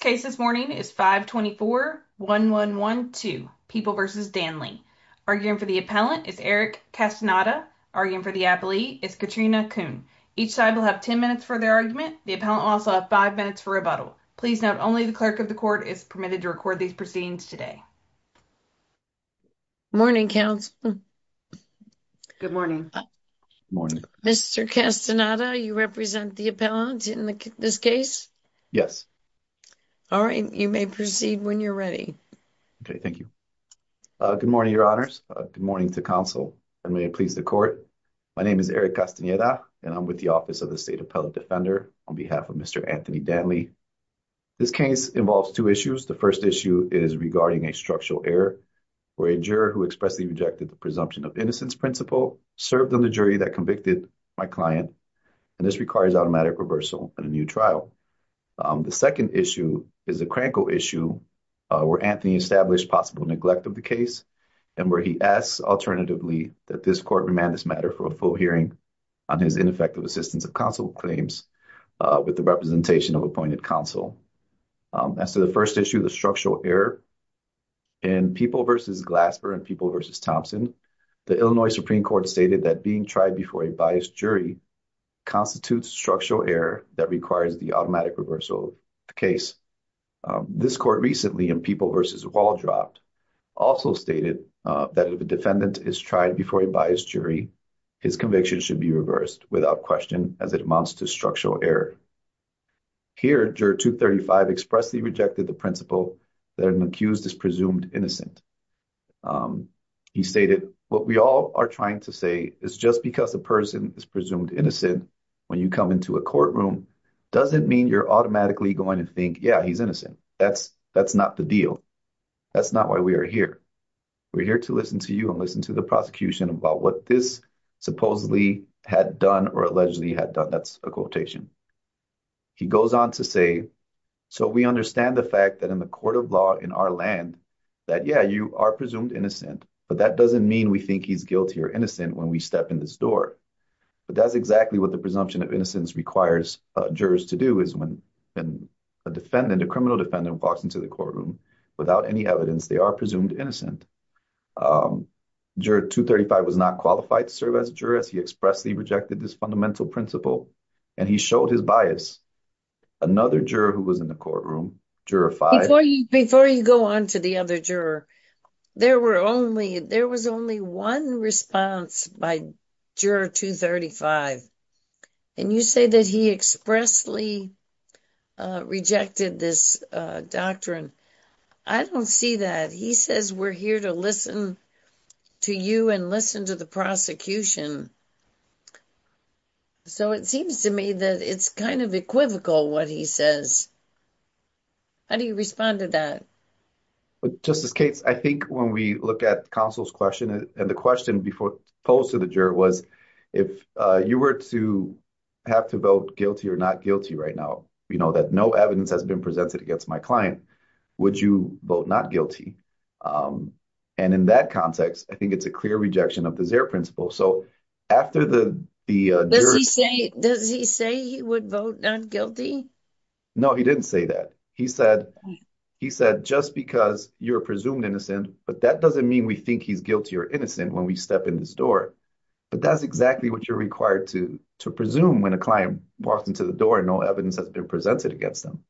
The next case this morning is 524-1112, People v. Danley. Arguing for the appellant is Eric Castaneda. Arguing for the appellee is Katrina Kuhn. Each side will have 10 minutes for their argument. The appellant will also have 5 minutes for rebuttal. Please note, only the clerk of the court is permitted to record these proceedings today. Morning, counsel. Good morning. Mr. Castaneda, you represent the appellant in this case? Yes. All right, you may proceed when you're ready. Okay, thank you. Good morning, your honors. Good morning to counsel, and may it please the court. My name is Eric Castaneda, and I'm with the Office of the State Appellate Defender on behalf of Mr. Anthony Danley. This case involves two issues. The first issue is regarding a structural error where a juror who expressly rejected the presumption of innocence principle served on the jury that convicted my client. And this requires automatic reversal and a new trial. The second issue is a crankle issue where Anthony established possible neglect of the case, and where he asks, alternatively, that this court remand this matter for a full hearing on his ineffective assistance of counsel claims with the representation of appointed counsel. As to the first issue, the structural error, in People v. Glasper and People v. Thompson, the Illinois Supreme Court stated that being tried before a biased jury constitutes structural error that requires the automatic reversal of the case. This court recently, in People v. Waldrop, also stated that if a defendant is tried before a biased jury, his conviction should be reversed without question as it amounts to structural error. Here, Juror 235 expressly rejected the principle that an accused is presumed innocent. He stated, what we all are trying to say is just because a person is presumed innocent when you come into a courtroom doesn't mean you're automatically going to think, yeah, he's innocent. That's not the deal. That's not why we are here. We're here to listen to you and listen to the prosecution about what this supposedly had done or allegedly had done. That's a quotation. He goes on to say, so we understand the fact that in the court of law in our land that, yeah, you are presumed innocent, but that doesn't mean we think he's guilty or innocent when we step in this door. But that's exactly what the presumption of innocence requires jurors to do is when a defendant, a criminal defendant, walks into the courtroom without any evidence, they are presumed innocent. Juror 235 was not qualified to serve as a juror as he expressly rejected this fundamental principle, and he showed his bias. Another juror who was in the courtroom, Juror 5. Before you go on to the other juror, there was only one response by Juror 235, and you say that he expressly rejected this doctrine. I don't see that. He says we're here to listen to you and listen to the prosecution. So it seems to me that it's kind of equivocal what he says. How do you respond to that? Justice Cates, I think when we look at counsel's question, and the question posed to the juror was if you were to have to vote guilty or not guilty right now, you know, that no evidence has been presented against my client, would you vote not guilty? And in that context, I think it's a clear rejection of the Zare principle. So after the jurors… Does he say he would vote not guilty? No, he didn't say that. He said just because you're presumed innocent, but that doesn't mean we think he's guilty or innocent when we step in this door. But that's exactly what you're required to presume when a client walks into the door and no evidence has been presented against them.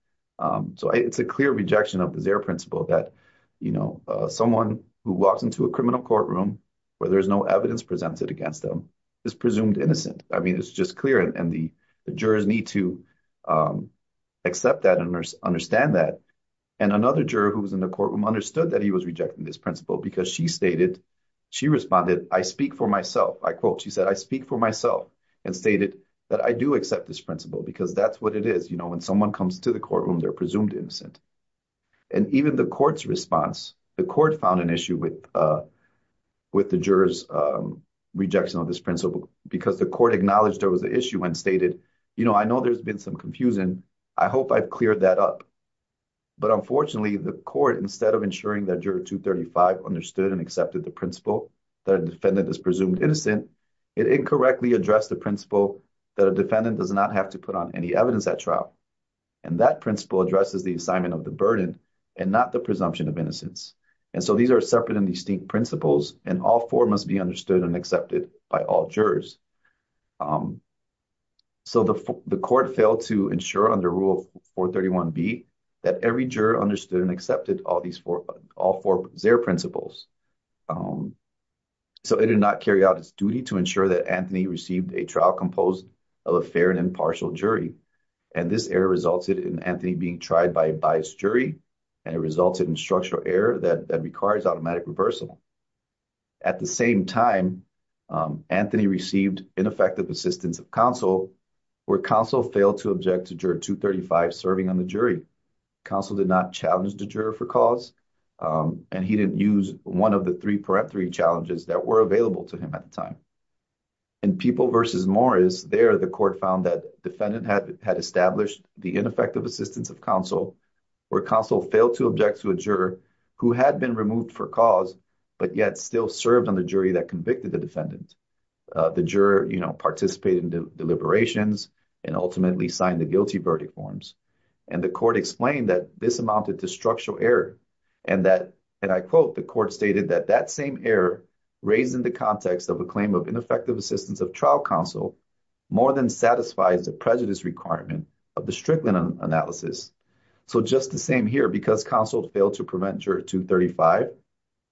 So it's a clear rejection of the Zare principle that, you know, someone who walks into a criminal courtroom where there's no evidence presented against them is presumed innocent. I mean, it's just clear, and the jurors need to accept that and understand that. And another juror who was in the courtroom understood that he was rejecting this principle because she stated… She responded, I speak for myself. I quote, she said, I speak for myself and stated that I do accept this principle because that's what it is. You know, when someone comes to the courtroom, they're presumed innocent. And even the court's response, the court found an issue with the jurors' rejection of this principle because the court acknowledged there was an issue and stated, you know, I know there's been some confusion. I hope I've cleared that up. But unfortunately, the court, instead of ensuring that juror 235 understood and accepted the principle that a defendant is presumed innocent, it incorrectly addressed the principle that a defendant does not have to put on any evidence at trial. And that principle addresses the assignment of the burden and not the presumption of innocence. And so these are separate and distinct principles, and all four must be understood and accepted by all jurors. So the court failed to ensure under Rule 431B that every juror understood and accepted all four of their principles. So it did not carry out its duty to ensure that Anthony received a trial composed of a fair and impartial jury. And this error resulted in Anthony being tried by a biased jury, and it resulted in structural error that requires automatic reversal. At the same time, Anthony received ineffective assistance of counsel, where counsel failed to object to juror 235 serving on the jury. Counsel did not challenge the juror for cause, and he didn't use one of the three peremptory challenges that were available to him at the time. In People v. Morris, there the court found that defendant had established the ineffective assistance of counsel, where counsel failed to object to a juror who had been removed for cause, but yet still served on the jury that convicted the defendant. The juror, you know, participated in deliberations and ultimately signed the guilty verdict forms. And the court explained that this amounted to structural error and that, and I quote, the court stated that that same error, raised in the context of a claim of ineffective assistance of trial counsel, more than satisfies the prejudice requirement of the Strickland analysis. So just the same here, because counsel failed to prevent juror 235,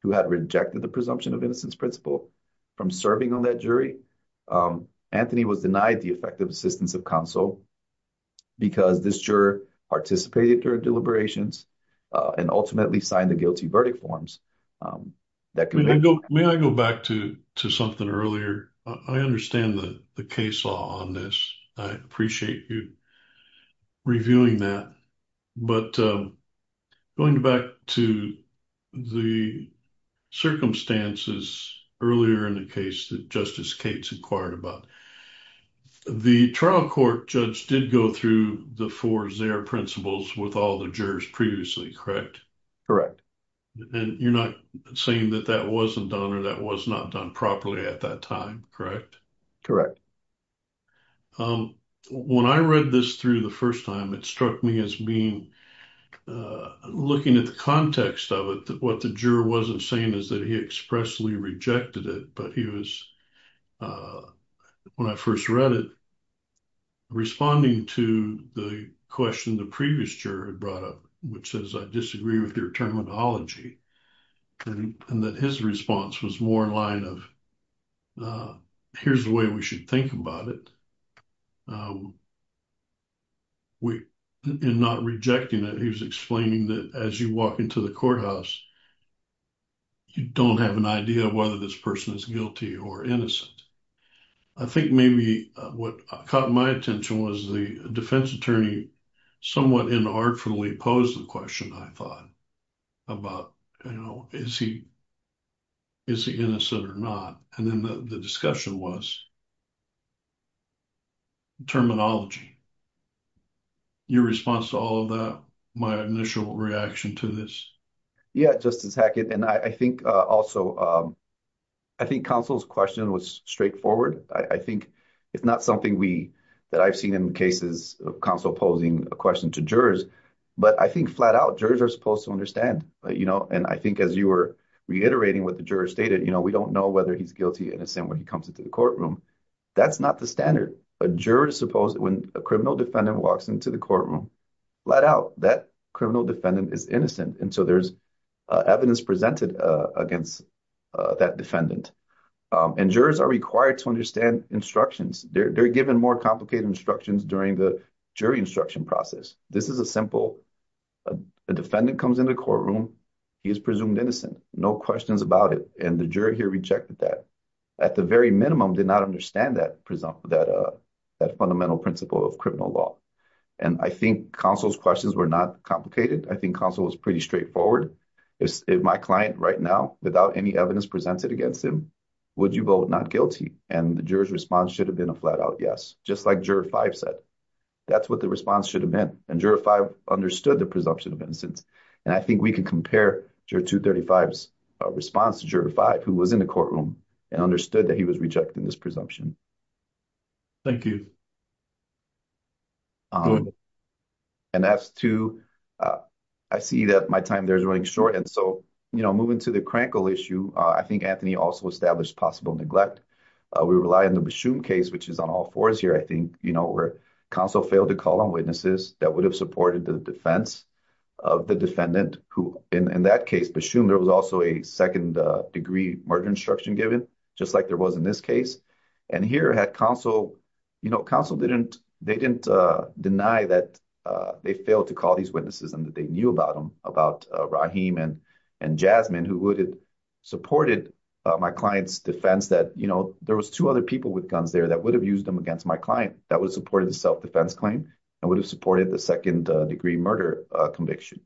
who had rejected the presumption of innocence principle from serving on that jury, Anthony was denied the effective assistance of counsel because this juror participated during deliberations and ultimately signed the guilty verdict forms. May I go back to something earlier? I understand the case law on this. I appreciate you reviewing that. But going back to the circumstances earlier in the case that Justice Cates inquired about, the trial court judge did go through the four Zare principles with all the jurors previously, correct? And you're not saying that that wasn't done or that was not done properly at that time, correct? Correct. When I read this through the first time, it struck me as being, looking at the context of it, that what the juror wasn't saying is that he expressly rejected it. But he was, when I first read it, responding to the question the previous juror had brought up, which says, I disagree with your terminology. And that his response was more in line of, here's the way we should think about it. In not rejecting it, he was explaining that as you walk into the courthouse, you don't have an idea of whether this person is guilty or innocent. I think maybe what caught my attention was the defense attorney somewhat inartfully posed the question, I thought, about, you know, is he innocent or not? And then the discussion was terminology. Your response to all of that, my initial reaction to this? Yeah, Justice Hackett, and I think also, I think counsel's question was straightforward. I think it's not something that I've seen in cases of counsel posing a question to jurors. But I think flat out, jurors are supposed to understand. And I think as you were reiterating what the juror stated, you know, we don't know whether he's guilty or innocent when he comes into the courtroom. That's not the standard. A juror is supposed, when a criminal defendant walks into the courtroom, flat out, that criminal defendant is innocent. And so there's evidence presented against that defendant. And jurors are required to understand instructions. They're given more complicated instructions during the jury instruction process. This is a simple, a defendant comes into the courtroom, he is presumed innocent. No questions about it. And the juror here rejected that. At the very minimum, did not understand that fundamental principle of criminal law. And I think counsel's questions were not complicated. I think counsel was pretty straightforward. If my client right now, without any evidence presented against him, would you vote not guilty? And the juror's response should have been a flat out yes, just like juror five said. That's what the response should have been. And juror five understood the presumption of innocence. And I think we can compare juror 235's response to juror five, who was in the courtroom and understood that he was rejecting this presumption. Thank you. And that's two. I see that my time there is running short. And so, you know, moving to the Krankel issue, I think Anthony also established possible neglect. We rely on the Bashum case, which is on all fours here, I think. You know, where counsel failed to call on witnesses that would have supported the defense of the defendant. In that case, Bashum, there was also a second-degree murder instruction given, just like there was in this case. And here had counsel, you know, counsel didn't deny that they failed to call these witnesses and that they knew about them, about Rahim and Jasmine, who would have supported my client's defense that, you know, there was two other people with guns there that would have used them against my client that would have supported the self-defense claim and would have supported the second-degree murder conviction.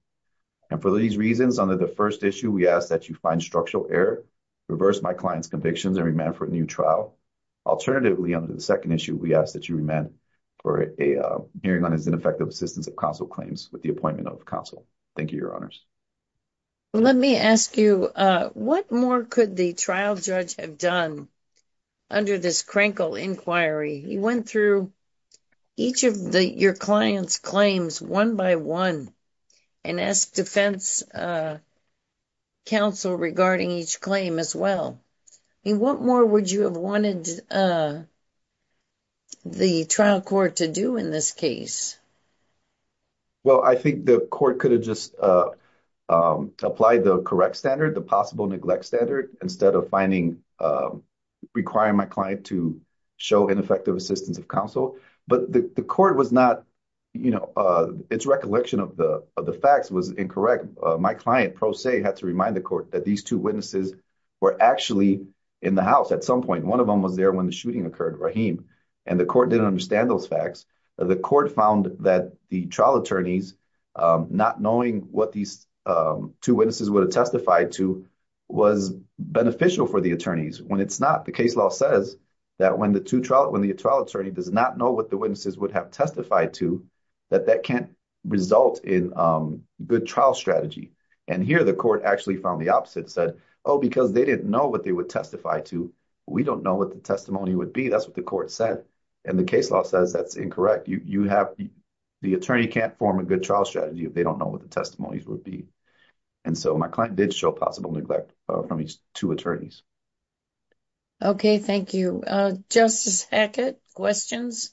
And for these reasons, under the first issue, we ask that you find structural error, reverse my client's convictions, and remand for a new trial. Alternatively, under the second issue, we ask that you remand for a hearing on his ineffective assistance of counsel claims with the appointment of counsel. Thank you, Your Honors. Let me ask you, what more could the trial judge have done under this Krenkel inquiry? He went through each of your clients' claims one by one and asked defense counsel regarding each claim as well. I mean, what more would you have wanted the trial court to do in this case? Well, I think the court could have just applied the correct standard, the possible neglect standard, instead of requiring my client to show ineffective assistance of counsel. But the court was not, you know, its recollection of the facts was incorrect. My client, pro se, had to remind the court that these two witnesses were actually in the house at some point. One of them was there when the shooting occurred, Rahim, and the court didn't understand those facts. The court found that the trial attorneys not knowing what these two witnesses would have testified to was beneficial for the attorneys. When it's not, the case law says that when the trial attorney does not know what the witnesses would have testified to, that that can't result in good trial strategy. And here the court actually found the opposite, said, oh, because they didn't know what they would testify to, we don't know what the testimony would be. That's what the court said. And the case law says that's incorrect. The attorney can't form a good trial strategy if they don't know what the testimonies would be. And so my client did show possible neglect from these two attorneys. Okay, thank you. Justice Hackett, questions?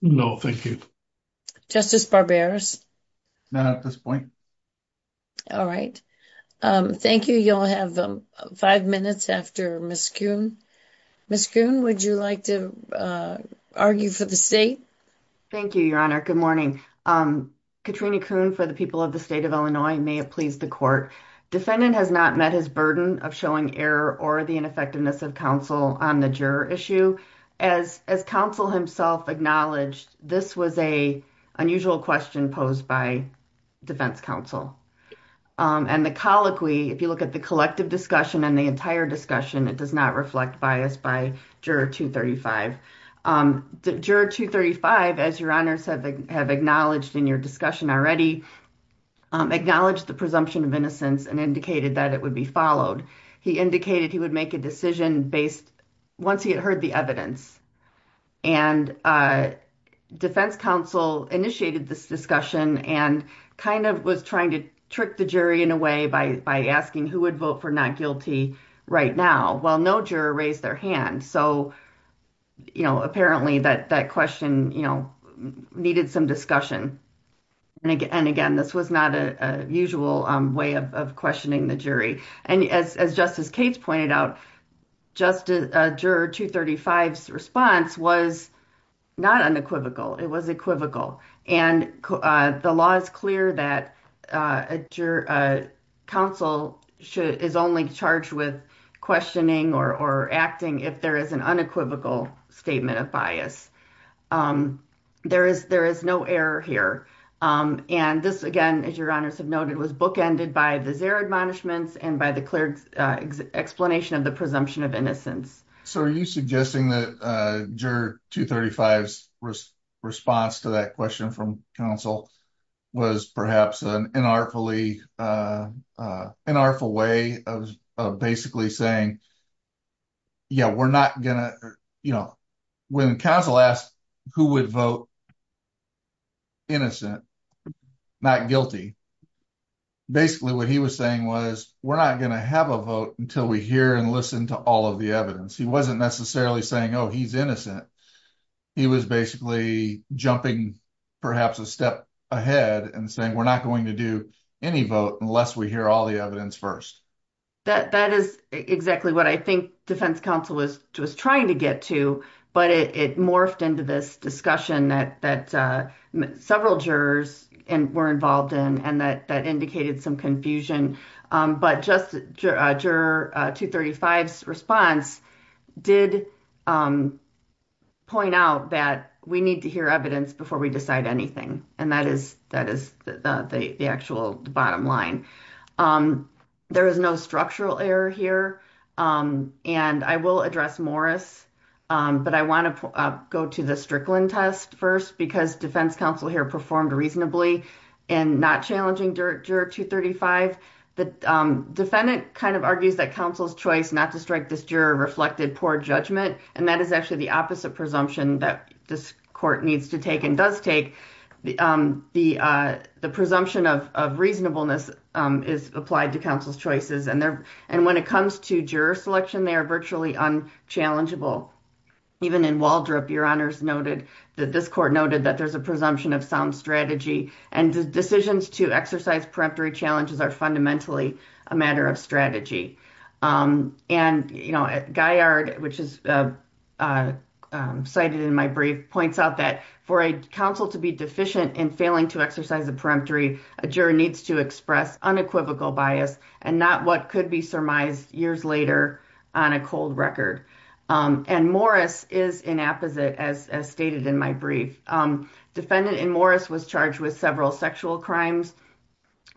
No, thank you. Justice Barberis? Not at this point. All right. Thank you. You'll have five minutes after Ms. Kuhn. Ms. Kuhn, would you like to argue for the state? Thank you, Your Honor. Good morning. Katrina Kuhn for the people of the state of Illinois. May it please the court. Defendant has not met his burden of showing error or the ineffectiveness of counsel on the juror issue. As counsel himself acknowledged, this was an unusual question posed by defense counsel. And the colloquy, if you look at the collective discussion and the entire discussion, it does not reflect bias by Juror 235. Juror 235, as Your Honors have acknowledged in your discussion already, acknowledged the presumption of innocence and indicated that it would be followed. He indicated he would make a decision based, once he had heard the evidence. And defense counsel initiated this discussion and kind of was trying to trick the jury in a way by asking who would vote for not guilty right now. Well, no juror raised their hand. So, you know, apparently that question, you know, needed some discussion. And again, this was not a usual way of questioning the jury. And as Justice Cates pointed out, Juror 235's response was not unequivocal. It was equivocal. And the law is clear that counsel is only charged with questioning or acting if there is an unequivocal statement of bias. There is no error here. And this, again, as Your Honors have noted, was bookended by the zero admonishments and by the clerk's explanation of the presumption of innocence. So, are you suggesting that Juror 235's response to that question from counsel was perhaps an unartful way of basically saying, yeah, we're not going to, you know, when counsel asked who would vote innocent, not guilty, basically what he was saying was we're not going to have a vote until we hear and listen to all of the evidence. He wasn't necessarily saying, oh, he's innocent. He was basically jumping perhaps a step ahead and saying we're not going to do any vote unless we hear all the evidence first. That is exactly what I think defense counsel was trying to get to. But it morphed into this discussion that several jurors were involved in and that indicated some confusion. But just Juror 235's response did point out that we need to hear evidence before we decide anything. And that is the actual bottom line. There is no structural error here. And I will address Morris. But I want to go to the Strickland test first because defense counsel here performed reasonably in not challenging Juror 235. The defendant kind of argues that counsel's choice not to strike this juror reflected poor judgment. And that is actually the opposite presumption that this court needs to take and does take. The presumption of reasonableness is applied to counsel's choices. And when it comes to juror selection, they are virtually unchallengeable. Even in Waldrop, Your Honors noted that this court noted that there's a presumption of sound strategy. And decisions to exercise preemptory challenges are fundamentally a matter of strategy. And Guyard, which is cited in my brief, points out that for a counsel to be deficient in failing to exercise a preemptory, a juror needs to express unequivocal bias and not what could be surmised years later on a cold record. And Morris is inapposite, as stated in my brief. Defendant in Morris was charged with several sexual crimes.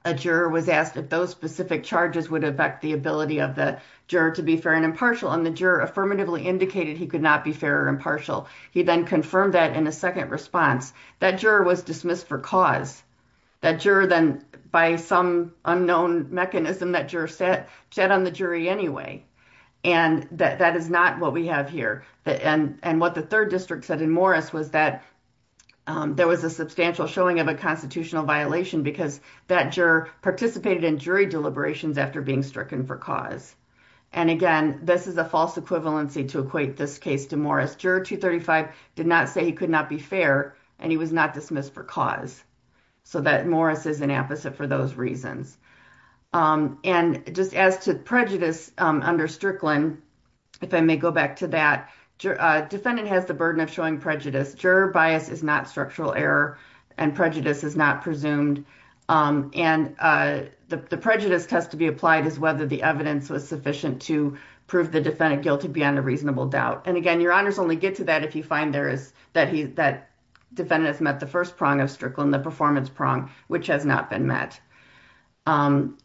A juror was asked if those specific charges would affect the ability of the juror to be fair and impartial. And the juror affirmatively indicated he could not be fair or impartial. He then confirmed that in a second response. That juror was dismissed for cause. That juror then, by some unknown mechanism, that juror sat on the jury anyway. And that is not what we have here. And what the third district said in Morris was that there was a substantial showing of a constitutional violation because that juror participated in jury deliberations after being stricken for cause. And again, this is a false equivalency to equate this case to Morris. Juror 235 did not say he could not be fair and he was not dismissed for cause. So that Morris is inapposite for those reasons. And just as to prejudice under Strickland, if I may go back to that. Defendant has the burden of showing prejudice. Juror bias is not structural error and prejudice is not presumed. And the prejudice test to be applied is whether the evidence was sufficient to prove the defendant guilty beyond a reasonable doubt. And again, your honors only get to that if you find that defendant has met the first prong of Strickland, the performance prong, which has not been met.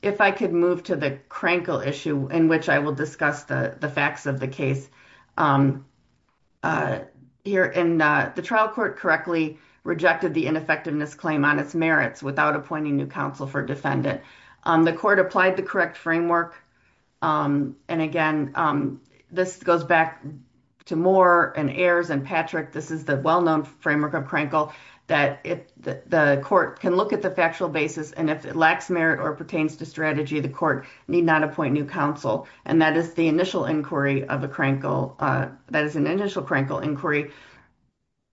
If I could move to the Crankle issue in which I will discuss the facts of the case. The trial court correctly rejected the ineffectiveness claim on its merits without appointing new counsel for defendant. The court applied the correct framework. And again, this goes back to Moore and Ayers and Patrick. This is the well-known framework of Crankle that the court can look at the factual basis. And if it lacks merit or pertains to strategy, the court need not appoint new counsel. And that is the initial inquiry of a Crankle. That is an initial Crankle inquiry.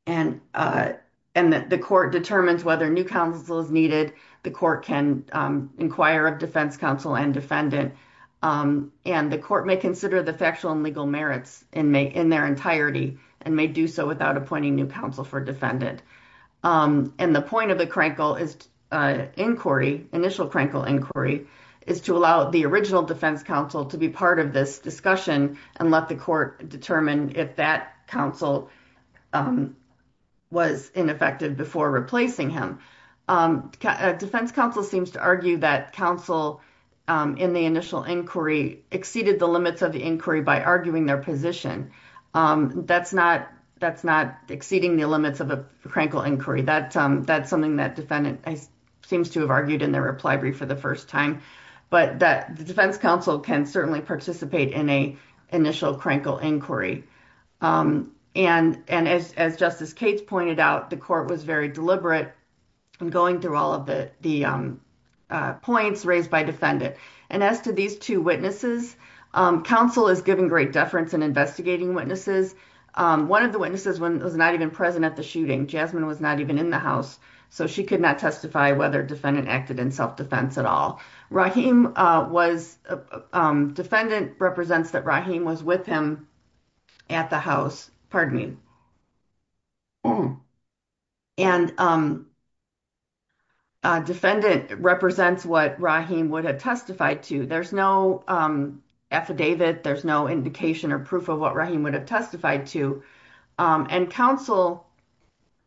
And the court determines whether new counsel is needed. The court can inquire of defense counsel and defendant. And the court may consider the factual and legal merits in their entirety and may do so without appointing new counsel for defendant. And the point of the Crankle inquiry, initial Crankle inquiry, is to allow the original defense counsel to be part of this discussion and let the court determine if that counsel was ineffective before replacing him. Defense counsel seems to argue that counsel in the initial inquiry exceeded the limits of the inquiry by arguing their position. That's not exceeding the limits of a Crankle inquiry. That's something that defendant seems to have argued in their reply brief for the first time. But the defense counsel can certainly participate in an initial Crankle inquiry. And as Justice Cates pointed out, the court was very deliberate in going through all of the points raised by defendant. And as to these two witnesses, counsel is given great deference in investigating witnesses. One of the witnesses was not even present at the shooting. Jasmine was not even in the house, so she could not testify whether defendant acted in self-defense at all. Rahim was defendant represents that Rahim was with him at the house. Pardon me. And defendant represents what Rahim would have testified to. There's no affidavit. There's no indication or proof of what Rahim would have testified to. And counsel,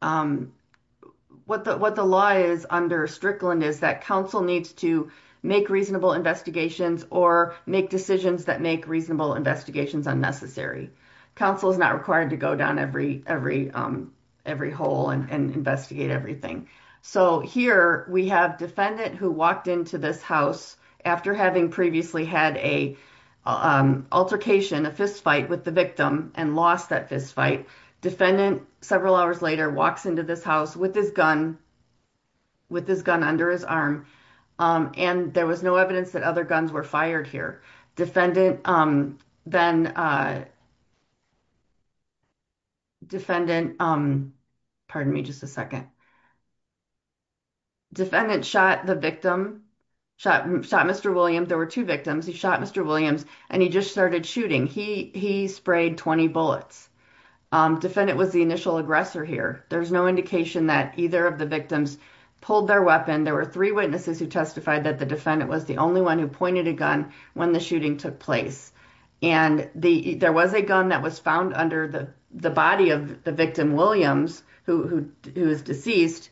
what the law is under Strickland is that counsel needs to make reasonable investigations or make decisions that make reasonable investigations unnecessary. Counsel is not required to go down every hole and investigate everything. So here we have defendant who walked into this house after having previously had a altercation, a fistfight with the victim and lost that fistfight. Defendant, several hours later, walks into this house with his gun, with his gun under his arm. And there was no evidence that other guns were fired here. Defendant then. Defendant. Pardon me just a second. Defendant shot the victim, shot Mr. Williams. There were two victims. He shot Mr. Williams and he just started shooting. He he sprayed 20 bullets. Defendant was the initial aggressor here. There's no indication that either of the victims pulled their weapon. There were three witnesses who testified that the defendant was the only one who pointed a gun when the shooting took place. And there was a gun that was found under the body of the victim, Williams, who was deceased.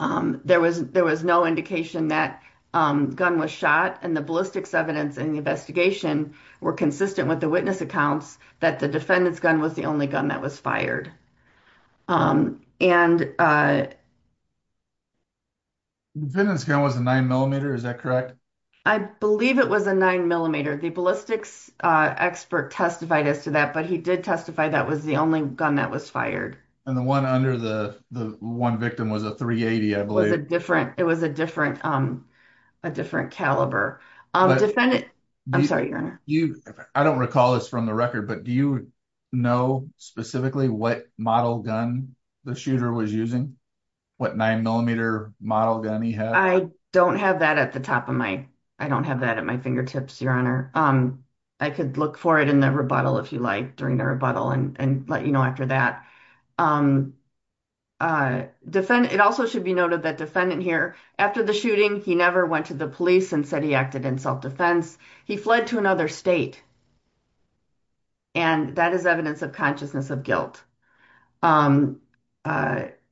There was there was no indication that gun was shot. And the ballistics evidence in the investigation were consistent with the witness accounts that the defendant's gun was the only gun that was fired. And. The defendant's gun was a 9mm, is that correct? I believe it was a 9mm. The ballistics expert testified as to that, but he did testify that was the only gun that was fired. And the one under the one victim was a 380, I believe. It was a different, it was a different, a different caliber. I'm sorry, I don't recall this from the record, but do you know specifically what model gun the shooter was using? What 9mm model gun he had? I don't have that at the top of my, I don't have that at my fingertips, Your Honor. I could look for it in the rebuttal if you like during the rebuttal and let you know after that. It also should be noted that defendant here after the shooting, he never went to the police and said he acted in self-defense. He fled to another state. And that is evidence of consciousness of guilt.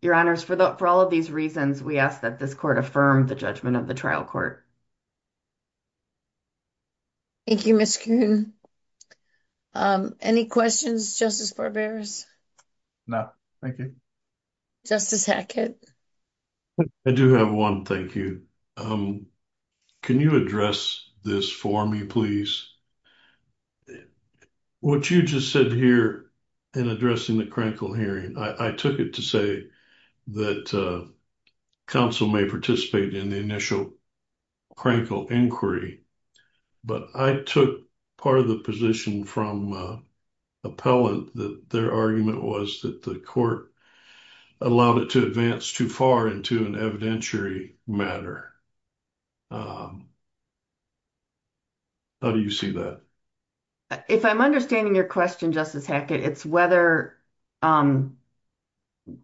Your Honors, for all of these reasons, we ask that this court affirm the judgment of the trial court. Thank you, Ms. Kuhn. Any questions, Justice Barberos? No, thank you. Justice Hackett? I do have one. Thank you. Can you address this for me, please? What you just said here in addressing the crankle hearing, I took it to say that counsel may participate in the initial crankle inquiry. But I took part of the position from appellant that their argument was that the court allowed it to advance too far into an evidentiary matter. How do you see that? If I'm understanding your question, Justice Hackett, it's whether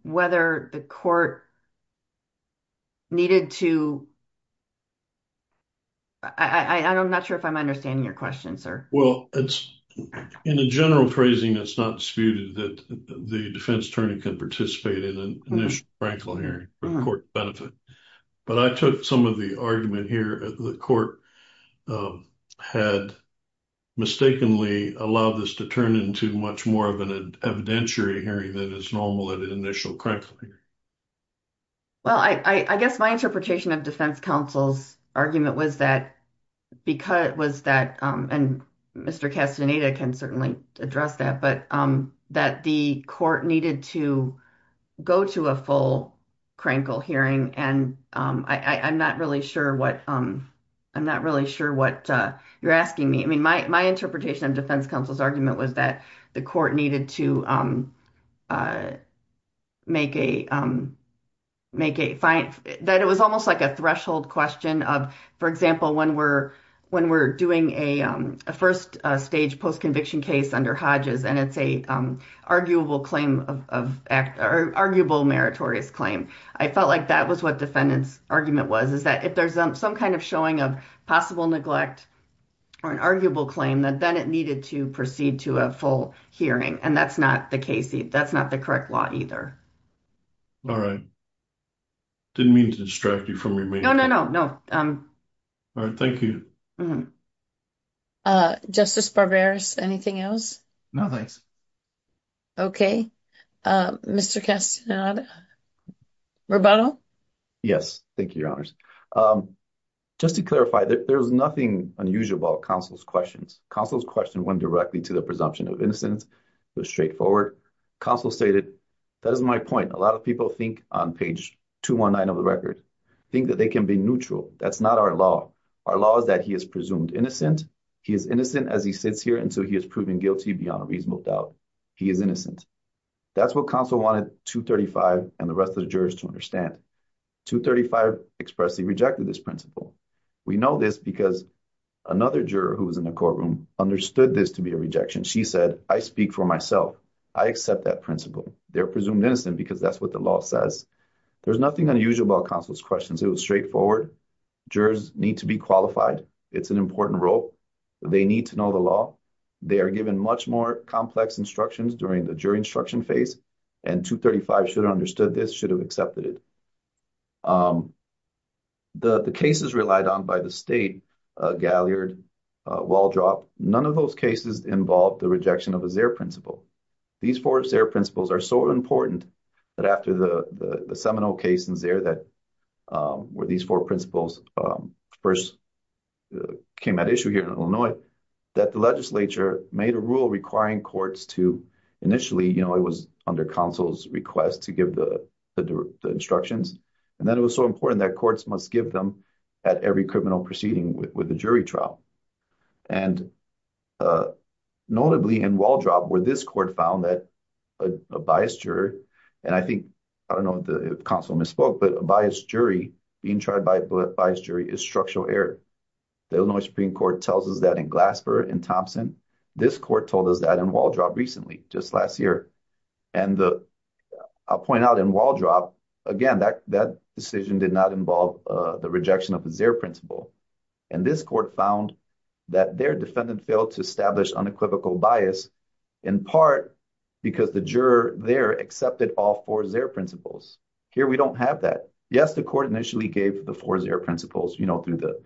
the court needed to... I'm not sure if I'm understanding your question, sir. Well, in a general phrasing, it's not disputed that the defense attorney can participate in an initial crankle hearing for court benefit. But I took some of the argument here that the court had mistakenly allowed this to turn into much more of an evidentiary hearing than is normal at an initial crankle hearing. Well, I guess my interpretation of defense counsel's argument was that, and Mr. Castaneda can certainly address that, but that the court needed to go to a full crankle hearing. And I'm not really sure what you're asking me. I mean, my interpretation of defense counsel's argument was that the court needed to make a fine, that it was almost like a threshold question of, for example, when we're doing a first stage post-conviction case under Hodges, and it's an arguable meritorious claim. I felt like that was what defendant's argument was, is that if there's some kind of showing of possible neglect or an arguable claim, that then it needed to proceed to a full hearing. And that's not the correct law either. All right. Didn't mean to distract you from your main point. No, no, no. All right, thank you. Justice Barberis, anything else? No, thanks. Okay. Mr. Castaneda, rebuttal? Yes, thank you, Your Honors. Just to clarify, there's nothing unusual about counsel's questions. Counsel's question went directly to the presumption of innocence. It was straightforward. Counsel stated, that is my point. A lot of people think, on page 219 of the record, think that they can be neutral. That's not our law. Our law is that he is presumed innocent. He is innocent as he sits here until he has proven guilty beyond a reasonable doubt. He is innocent. That's what counsel wanted 235 and the rest of the jurors to understand. 235 expressly rejected this principle. We know this because another juror who was in the courtroom understood this to be a rejection. She said, I speak for myself. I accept that principle. They're presumed innocent because that's what the law says. There's nothing unusual about counsel's questions. It was straightforward. Jurors need to be qualified. It's an important role. They need to know the law. They are given much more complex instructions during the jury instruction phase. And 235 should have understood this, should have accepted it. The cases relied on by the state, Galliard, Waldrop, none of those cases involved the rejection of a Zer principle. These four Zer principles are so important that after the Seminole case in Illinois, that the legislature made a rule requiring courts to initially, you know, it was under counsel's request to give the instructions. And then it was so important that courts must give them at every criminal proceeding with a jury trial. And notably in Waldrop where this court found that a biased juror, and I think, I don't know if counsel misspoke, but a biased jury being tried by a biased jury is structural error. The Illinois Supreme Court tells us that in Glasper, in Thompson, this court told us that in Waldrop recently, just last year. And I'll point out in Waldrop, again, that decision did not involve the rejection of the Zer principle. And this court found that their defendant failed to establish unequivocal bias in part because the juror there accepted all four Zer principles. Here, we don't have that. Yes, the court initially gave the four Zer principles, you know, through the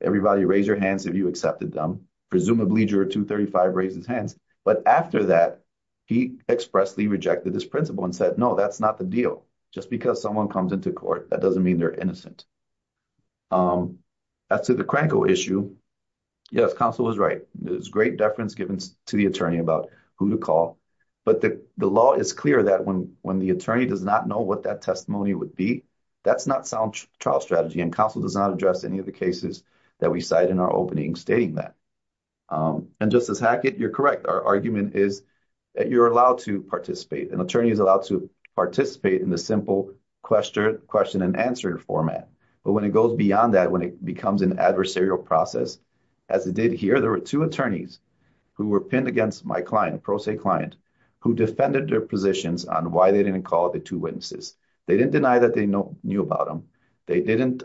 everybody raise your hands if you accepted them. Presumably juror 235 raised his hands, but after that, he expressly rejected this principle and said, no, that's not the deal. Just because someone comes into court, that doesn't mean they're innocent. As to the Kranko issue, yes, counsel was right. There's great deference given to the attorney about who to call, but the law is clear that when the attorney does not know what that testimony would be, that's not sound trial strategy. And counsel does not address any of the cases that we cite in our opening stating that. And Justice Hackett, you're correct. Our argument is that you're allowed to participate. An attorney is allowed to participate in the simple question and answer format. But when it goes beyond that, when it becomes an adversarial process, as it did here, there were two attorneys who were pinned against my client, a pro se client, who defended their positions on why they didn't call the two witnesses. They didn't deny that they knew about them. They didn't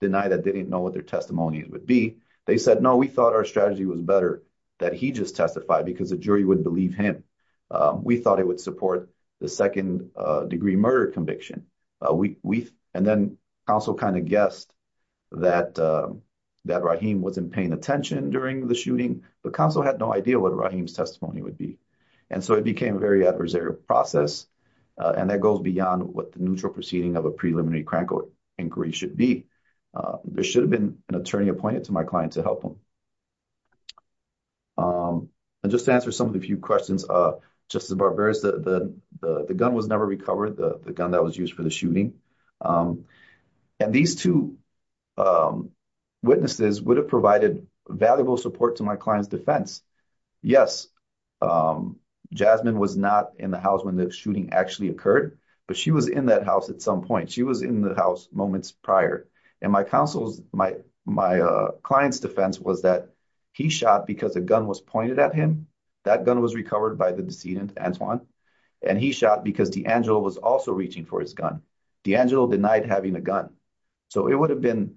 deny that they didn't know what their testimonies would be. They said, no, we thought our strategy was better that he just testified because the jury would believe him. We thought it would support the second degree murder conviction. And then counsel kind of guessed that Rahim wasn't paying attention during the shooting. The counsel had no idea what Rahim's testimony would be. And so it became a very adversarial process. And that goes beyond what the neutral proceeding of a preliminary crank inquiry should be. There should have been an attorney appointed to my client to help him. And just to answer some of the few questions, Justice Barbera, the gun was never recovered. The gun that was used for the shooting. And these two witnesses would have provided valuable support to my client's defense. Yes, Jasmine was not in the house when the shooting actually occurred, but she was in that house at some point. She was in the house moments prior. And my counsel's, my client's defense was that he shot because a gun was pointed at him. That gun was recovered by the decedent Antoine. And he shot because D'Angelo was also reaching for his gun. D'Angelo denied having a gun. So it would have been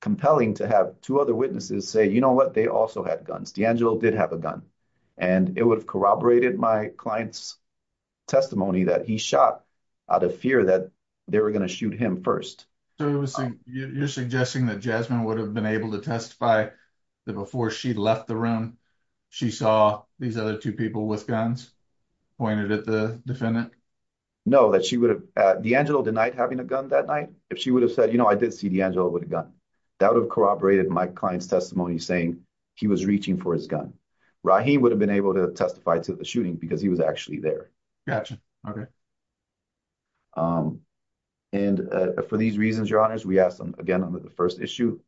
compelling to have two other witnesses say, you know what? They also had guns. D'Angelo did have a gun and it would have corroborated my client's testimony that he shot out of fear that they were going to shoot him first. So it was, you're suggesting that Jasmine would have been able to testify that before she left the room, she saw these other two people with guns pointed at the defendant. No, that she would have, D'Angelo denied having a gun that night. If she would have said, you know, I did see D'Angelo with a gun that would have corroborated my client's testimony saying he was reaching for his gun. Rahim would have been able to testify to the shooting because he was actually there. Okay. And for these reasons, your honors, we asked them again under the first issue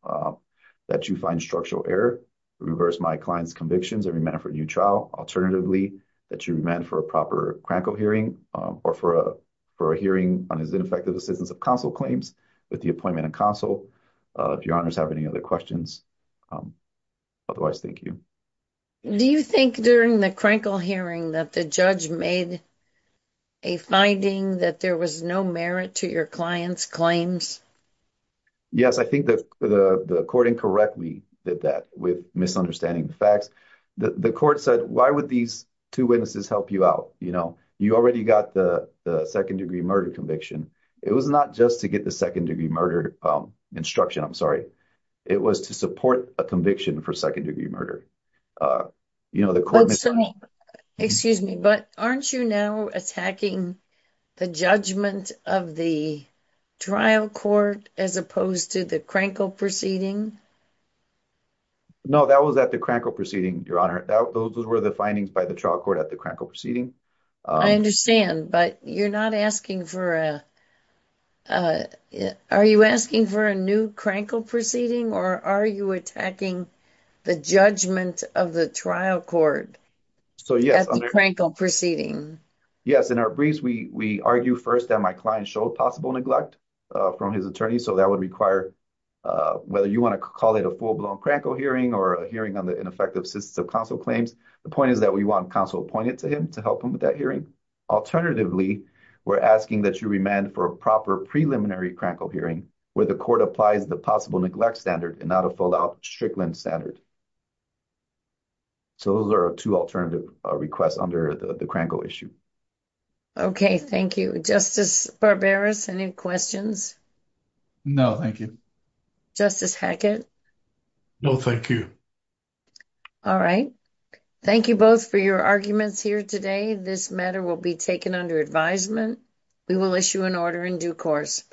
that you find structural error reverse my client's convictions. Every man for a new trial, alternatively that you meant for a proper crankle hearing or for a, for a hearing on his ineffective assistance of council claims with the appointment of council. If your honors have any other questions, otherwise, thank you. Do you think during the crankle hearing that the judge made a finding that there was no merit to your clients claims? Yes. I think the, the, the court incorrectly did that with misunderstanding the facts that the so why would these two witnesses help you out? You know, you already got the, the second degree murder conviction. It was not just to get the second degree murder instruction. I'm sorry. It was to support a conviction for second degree murder. You know, the court. Excuse me, but aren't you now attacking. The judgment of the trial court, as opposed to the crankle proceeding. No, that was at the crankle proceeding, your honor. Those were the findings by the trial court at the crackle proceeding. I understand, but you're not asking for a, a, are you asking for a new crankle proceeding or are you attacking the judgment of the trial court? So yes, I'm crankle proceeding. Yes. In our briefs, we, we argue first that my client showed possible neglect from his attorney. So that would require. Uh, whether you want to call it a full blown crankle hearing or a hearing on the ineffective system, counsel claims, the point is that we want counsel appointed to him to help him with that hearing. Alternatively, we're asking that you remand for a proper preliminary crankle hearing where the court applies the possible neglect standard and not a full out strickland standard. So those are two alternative requests under the crankle issue. Okay. Thank you. Justice barbarous. Any questions? No, thank you. Justice Hackett. No, thank you. All right. Thank you both for your arguments here today. This matter will be taken under advisement. We will issue an order in due course.